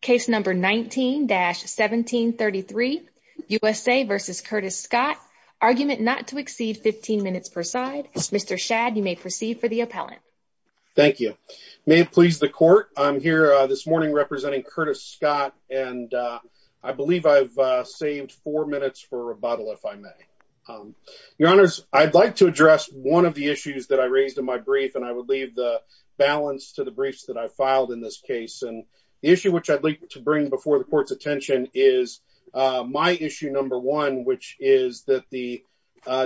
Case No. 19-1733, USA v. Curtis Scott. Argument not to exceed 15 minutes per side. Mr. Shadd, you may proceed for the appellant. Thank you. May it please the Court, I'm here this morning representing Curtis Scott, and I believe I've saved four minutes for rebuttal if I may. Your Honors, I'd like to address one of the issues that I raised in my brief, and I would leave the balance to the briefs that I filed in this case. And issue which I'd like to bring before the Court's attention is my issue No. 1, which is that the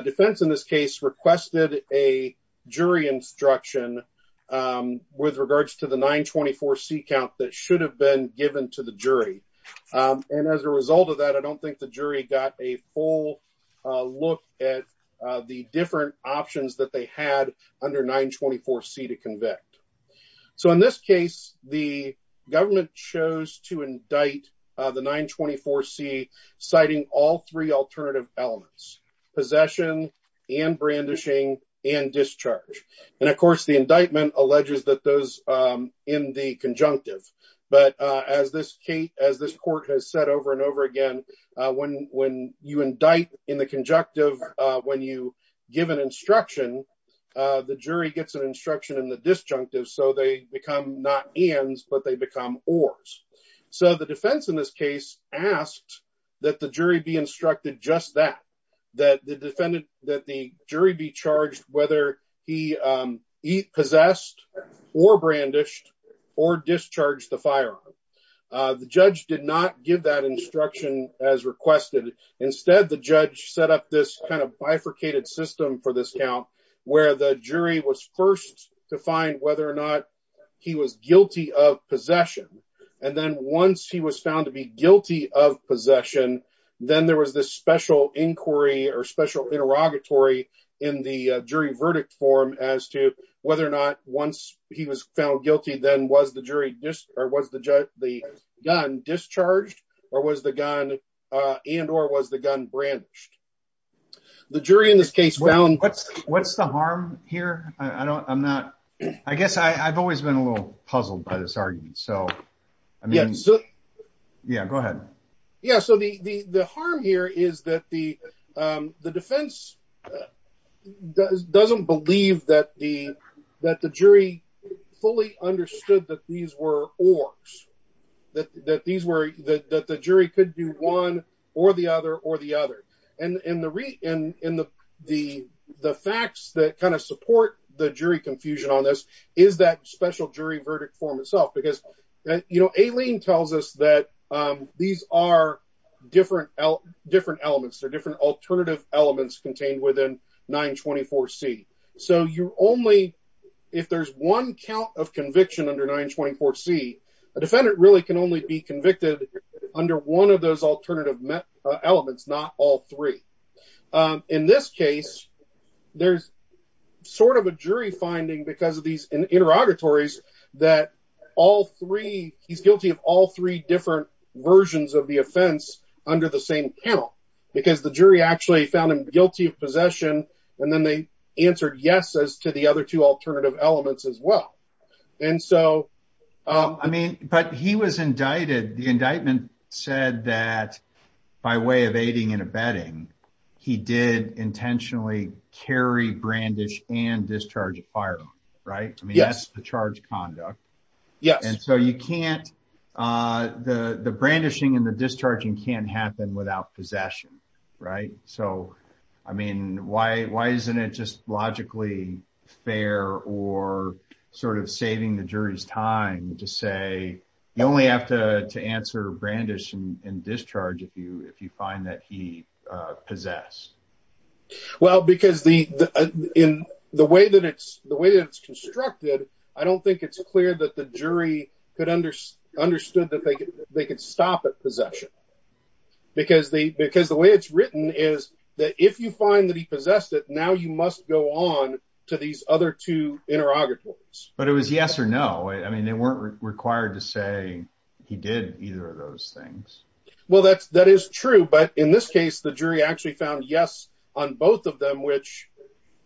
defense in this case requested a jury instruction with regards to the 924C count that should have been given to the jury. And as a result of that, I don't think the jury got a full look at the different options that they had under 924C to convict. So in this case, the government chose to indict the 924C, citing all three alternative elements, possession and brandishing and discharge. And of course, the indictment alleges that those in the conjunctive, but as this Court has said over and over again, when you indict in the conjunctive, when you give an instruction, the jury gets an instruction in the disjunctive, so they become not ands, but they become ors. So the defense in this case asked that the jury be instructed just that, that the defendant, that the jury be charged whether he possessed or brandished or discharged the firearm. The judge did not give that instruction as requested. Instead, the judge set up this kind of bifurcated system for this count, where the jury was first to find whether or not he was guilty of possession. And then once he was found to be guilty of possession, then there was this special inquiry or special interrogatory in the jury verdict form as to whether or not once he was found guilty, then was the jury discharged or was the gun discharged and or was the gun brandished. The jury in this case found... What's the harm here? I don't, I'm not, I guess I've always been a little puzzled by this argument. So I mean, yeah, go ahead. Yeah, so the harm here is that the defense doesn't believe that the jury fully understood that these were ors, that these were, that the jury could do one or the other or the other. And the facts that kind of support the jury confusion on this is that special jury verdict form itself, because, Aileen tells us that these are different elements, they're different alternative elements contained within 924C. So you only, if there's one count of conviction under 924C, a defendant really can only be convicted under one of those alternative elements, not all three. In this case, there's sort of a jury finding because of these interrogatories that all three, he's guilty of all three different versions of the offense under the same panel, because the jury actually found him guilty of possession. And then they answered yes as to the other two alternative elements as well. And so, I mean, but he was indicted, the indictment said that by way of aiding and abetting, he did intentionally carry brandish and discharge a firearm, right? I mean, that's the charge conduct. And so you can't, the brandishing and the discharging can't happen without possession, right? So, I mean, why isn't it just logically fair or sort of saving the jury's time to say, you only have to answer brandish and discharge if you find that he possessed? Well, because the way that it's constructed, I don't think it's clear that the jury could understood that they could stop at possession. Because the way it's written is that if you find that he possessed it, now you must go on to these other two interrogatories. But it was yes or no. I mean, they weren't required to say he did either of those things. Well, that is true. But in this case, the jury actually found yes on both of them, which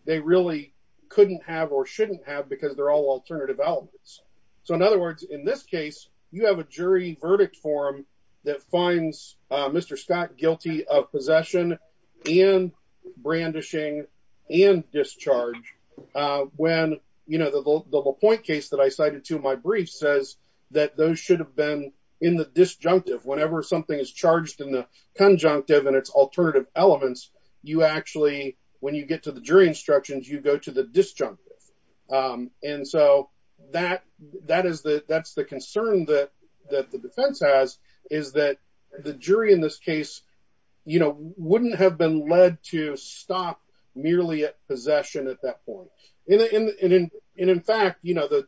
they really couldn't have or shouldn't have because they're all alternative elements. So in other words, in this case, you have a jury verdict form that finds Mr. Scott guilty of a point case that I cited to my brief says that those should have been in the disjunctive, whenever something is charged in the conjunctive and its alternative elements, you actually, when you get to the jury instructions, you go to the disjunctive. And so that's the concern that the defense has, is that the jury in this case, wouldn't have been led to stop merely at possession at that point. And in fact, to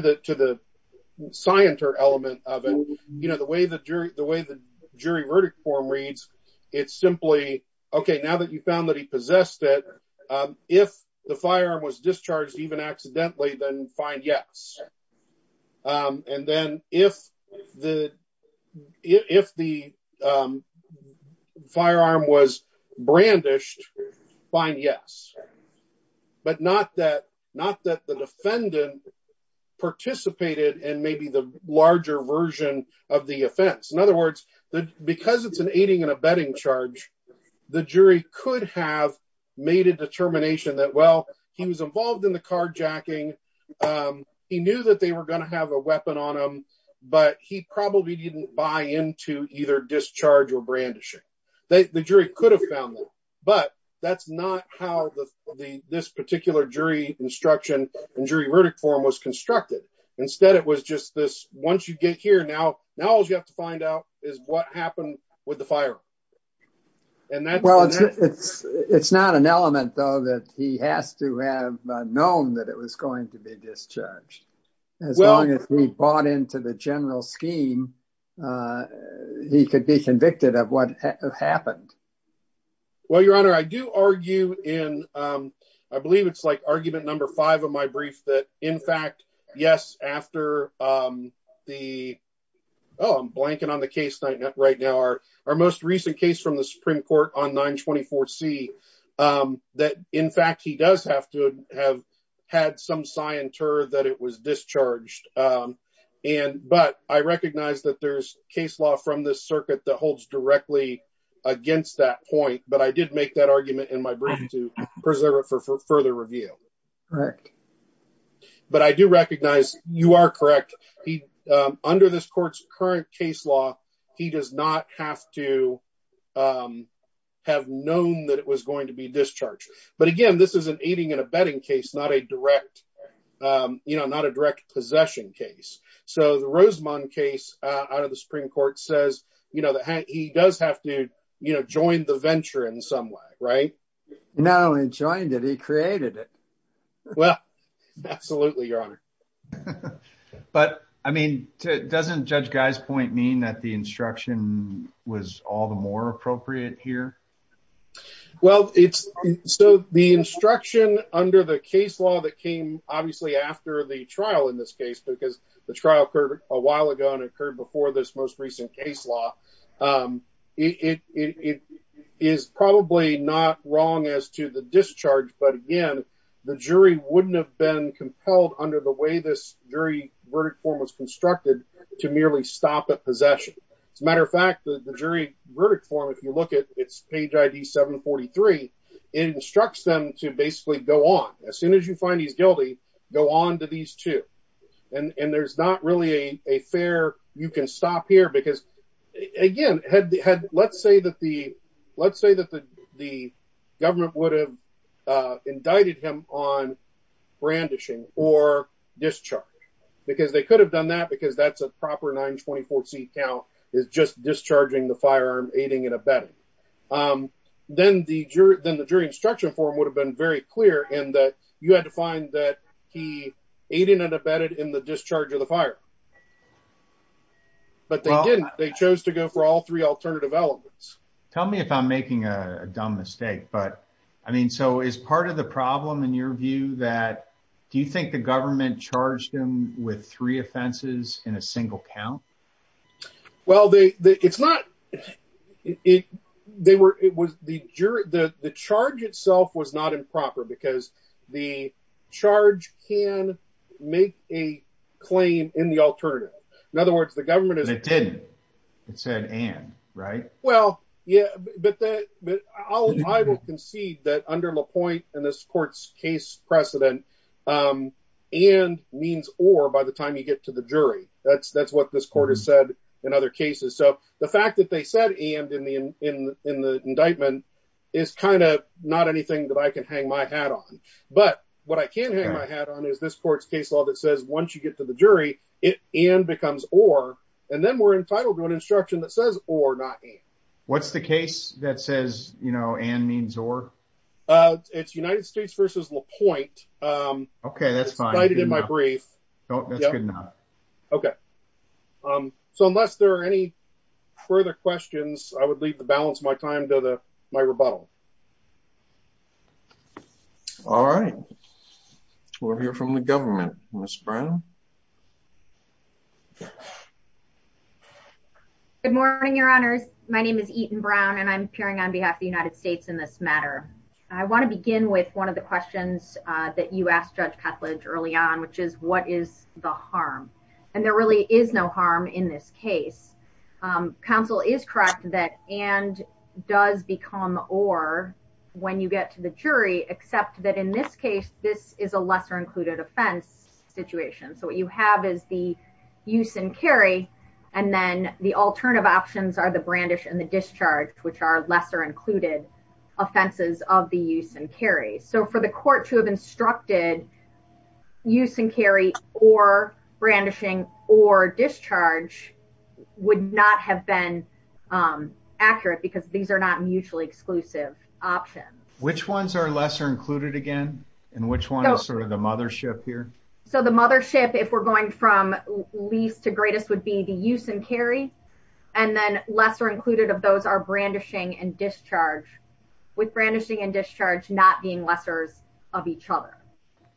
the scienter element of it, the way the jury verdict form reads, it's simply, okay, now that you found that he possessed it, if the firearm was discharged even accidentally, then fine, yes. And then if the firearm was brandished, fine, yes. But not that the defendant participated in maybe the larger version of the offense. In other words, because it's an aiding and abetting charge, the jury could have made a determination that, well, he was involved in the carjacking. He knew that they were gonna have a weapon on him, but he probably didn't buy into either discharge or brandishing. The jury could have found them, but that's not how this particular jury instruction and jury verdict form was constructed. Instead, it was just this, once you get here, now all you have to find out is what happened with the firearm. Well, it's not an element, though, that he has to have known that it was going to be discharged. As long as he bought into the general scheme, he could be convicted of what happened. Well, Your Honor, I do argue in, I believe it's like argument number five of my brief, that in case from the Supreme Court on 924C, that in fact, he does have to have had some scienter that it was discharged. But I recognize that there's case law from this circuit that holds directly against that point. But I did make that argument in my brief to preserve it for further review. Correct. But I do recognize you are correct. Under this court's current case law, he does not have to have known that it was going to be discharged. But again, this is an aiding and abetting case, not a direct possession case. So the Rosamond case out of the Supreme Court says that he does have to join the venture in some way, right? Not only joined it, he created it. Well, absolutely, Your Honor. But I mean, doesn't Judge Guy's point mean that the instruction was all the more appropriate here? Well, it's so the instruction under the case law that came obviously after the trial in this case, because the trial occurred a while ago and occurred before this most recent case law. It is probably not wrong as to the discharge. But again, the jury wouldn't have been compelled under the way this jury verdict form was constructed to merely stop a possession. As a matter of fact, the jury verdict form, if you look at its page ID 743, it instructs them to basically go on. As soon as you find he's guilty, go on to these two. And there's not really a fair you can stop here because, again, let's say that the government would have indicted him on brandishing or discharge because they could have done that because that's a proper 924 seat count is just discharging the firearm, aiding and abetting. Then the jury instruction form would have been very clear in that you had to find that he aided and abetted in the discharge of the fire. But they didn't. They chose to go for all three alternative elements. Tell me if I'm making a dumb mistake. But I mean, so is part of the problem, in your view, that do you think the government charged him with three offenses in a single count? Well, they it's not it. They were it was the jury. The charge itself was not improper because the charge can make a claim in the alternative. In other words, the government didn't. It said and right. Well, yeah, but I will concede that under the point in this court's case precedent and means or by the time you get to the jury, that's that's what this court has said in other cases. So the fact that they said and in the in the indictment is kind of not anything that I can hang my hat on. But what I can hang my hat on is this court's case law that says once you get to the jury, it and becomes or and then we're entitled to an instruction that says or not. What's the case that says, you know, and means or it's United States versus LaPointe. OK, that's fine. I did in my brief. Oh, that's good. OK. So unless there are any further questions, I would leave the balance my time to my rebuttal. All right. We'll hear from the government, Ms. Brown. Good morning, your honors. My name is Eaton Brown, and I'm appearing on behalf of the United States in this matter. I want to begin with one of the questions that you asked Judge Petlage early on, which is what is the harm? And there really is no harm in this case. Council is correct that and does become or when you get to the jury, except that in this case, this is a lesser included offense situation. So what you have is the use and carry and then the alternative options are the brandish and the discharge, which are lesser included offenses of the use and carry. So for the court to have instructed use and carry or brandishing or discharge would not have been accurate because these are not mutually exclusive options. Which ones are lesser included again? And which one is sort of the mothership here? So the mothership, if we're going from least to greatest, would be the use and carry and then lesser included of those are brandishing and discharge with brandishing and discharge not being lessers of each other.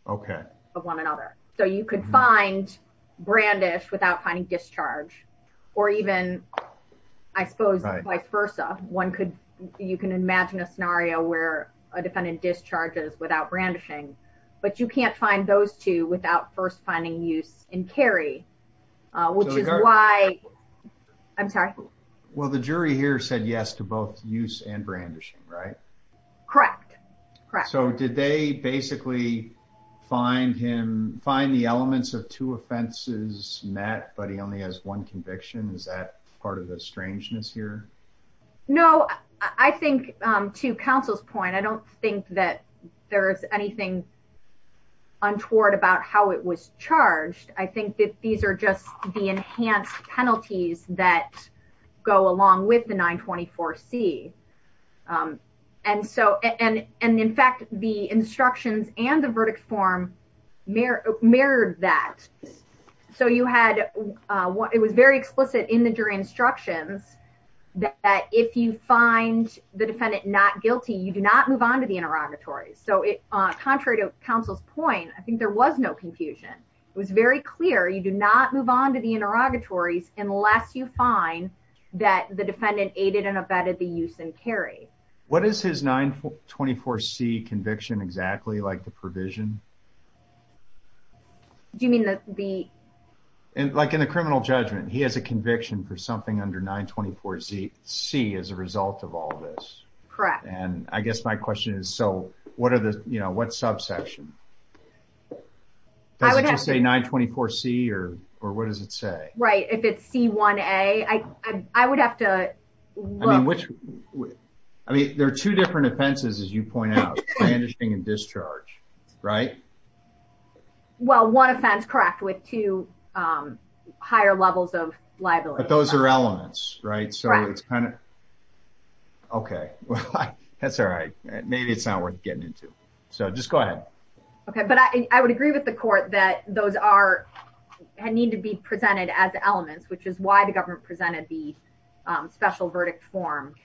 OK, of one another. So you could find brandish without finding discharge or even I suppose vice versa. One could you can imagine a scenario where a defendant discharges without brandishing, but you can't find those two without first finding use and carry, which is why I'm sorry. Well, the jury here said yes to both use and brandishing, right? Correct. Correct. So did they basically find him, find the elements of two offenses met, but he only has one conviction? Is that part of the strangeness here? No, I think to counsel's point, I don't think that there's anything untoward about how it was charged. I think that these are just the enhanced penalties that go along with the 924 C. And so and and in fact, the instructions and the verdict form mirrored that. So you had what it was very explicit in the jury instructions that if you find the defendant not guilty, you do not move on to the interrogatory. So contrary to counsel's point, I think there was no confusion. It was very clear you do not move on to the interrogatories unless you find that the defendant aided and abetted the use and carry. What is his 924 C conviction exactly like the provision? Do you mean that the like in the criminal judgment he has a conviction for something under 924 C as a result of all this? Correct. And I guess my question is, so what are the, you know, what subsection? Does it just say 924 C or or what does it say? Right. If it's C1A, I, I would have to. I mean, which I mean, there are two different offenses, as you point out, bandaging and discharge, right? Well, one offense, correct, with two higher levels of liability. But those are elements, right? So it's kind of. Okay, well, that's all right. Maybe it's not worth getting into. So just go ahead. Okay, but I would agree with the court that those are need to be presented as elements, which is why the government presented the special verdict form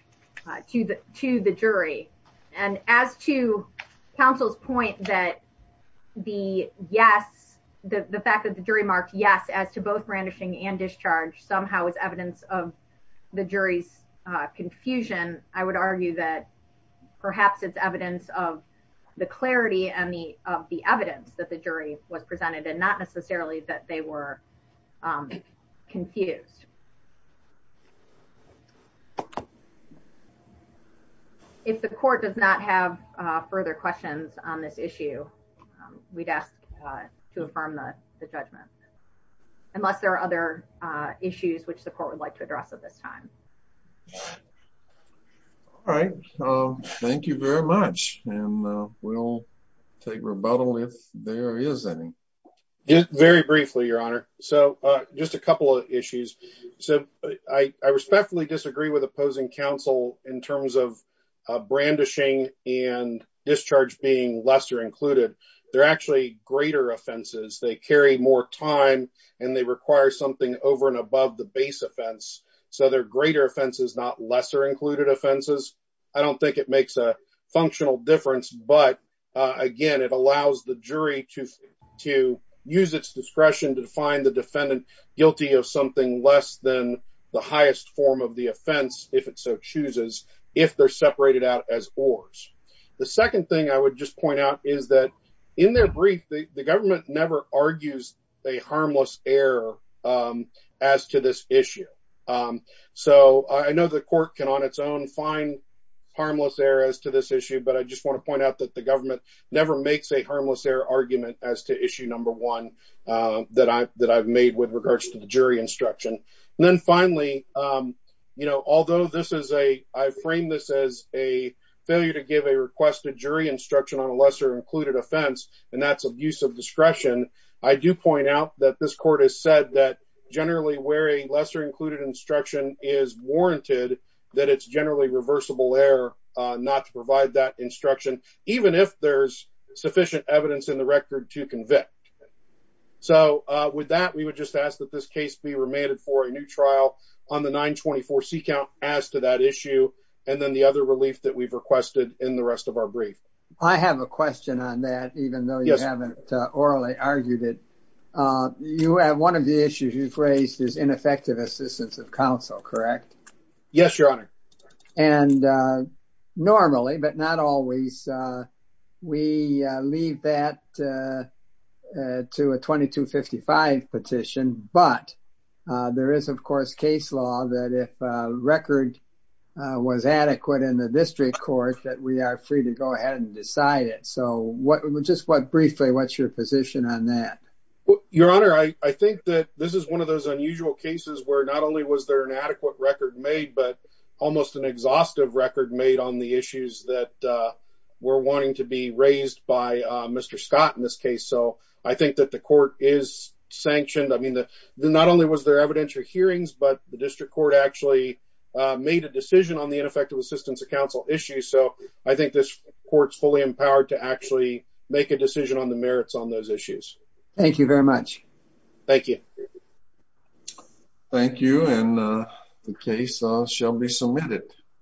to the to the jury. And as to counsel's point that the yes, the fact that the jury marked yes, as to both brandishing and confusion, I would argue that perhaps it's evidence of the clarity and the of the evidence that the jury was presented and not necessarily that they were confused. If the court does not have further questions on this issue, we'd ask to affirm the judgment, unless there are other issues which the court would like to address at this time. All right. Thank you very much. And we'll take rebuttal if there is any. Very briefly, Your Honor. So just a couple of issues. So I respectfully disagree with opposing counsel in terms of brandishing and discharge being lesser included. They're actually greater offenses, they carry more time, and they require something over and above the base offense. So they're greater offenses, not lesser included offenses. I don't think it makes a functional difference. But again, it allows the jury to, to use its discretion to define the defendant guilty of something less than the highest form of the offense, if it so chooses, if they're separated out as oars. The second thing I would just point out is that in their brief, the government never argues a harmless error as to this issue. So I know the court can on its own find harmless errors to this issue. But I just want to point out that the government never makes a harmless error argument as to issue number one, that I that I've made with regards to the jury instruction. And then finally, you know, although this is a I frame this as a failure to give a requested jury instruction on a lesser included offense, and that's abuse of discretion, I do point out that this court has said that generally where a lesser included instruction is warranted, that it's generally reversible error, not to provide that instruction, even if there's sufficient evidence in the record to convict. So with that, we would just ask that this case be remanded for a new trial on the 924 c count as to that issue. And then the other relief that we've I have a question on that, even though you haven't orally argued it. You have one of the issues you've raised is ineffective assistance of counsel, correct? Yes, Your Honor. And normally, but not always. We leave that to a 2255 petition. But there is, of course, case law that record was adequate in the district court that we are free to go ahead and decide it. So what just what briefly, what's your position on that? Your Honor, I think that this is one of those unusual cases where not only was there an adequate record made, but almost an exhaustive record made on the issues that were wanting to be raised by Mr. Scott in this case. So I think that the court is sanctioned. I mean, not only was there evidentiary hearings, but the district court actually made a decision on the ineffective assistance of counsel issue. So I think this court's fully empowered to actually make a decision on the merits on those issues. Thank you very much. Thank you. Thank you. And the case shall be submitted.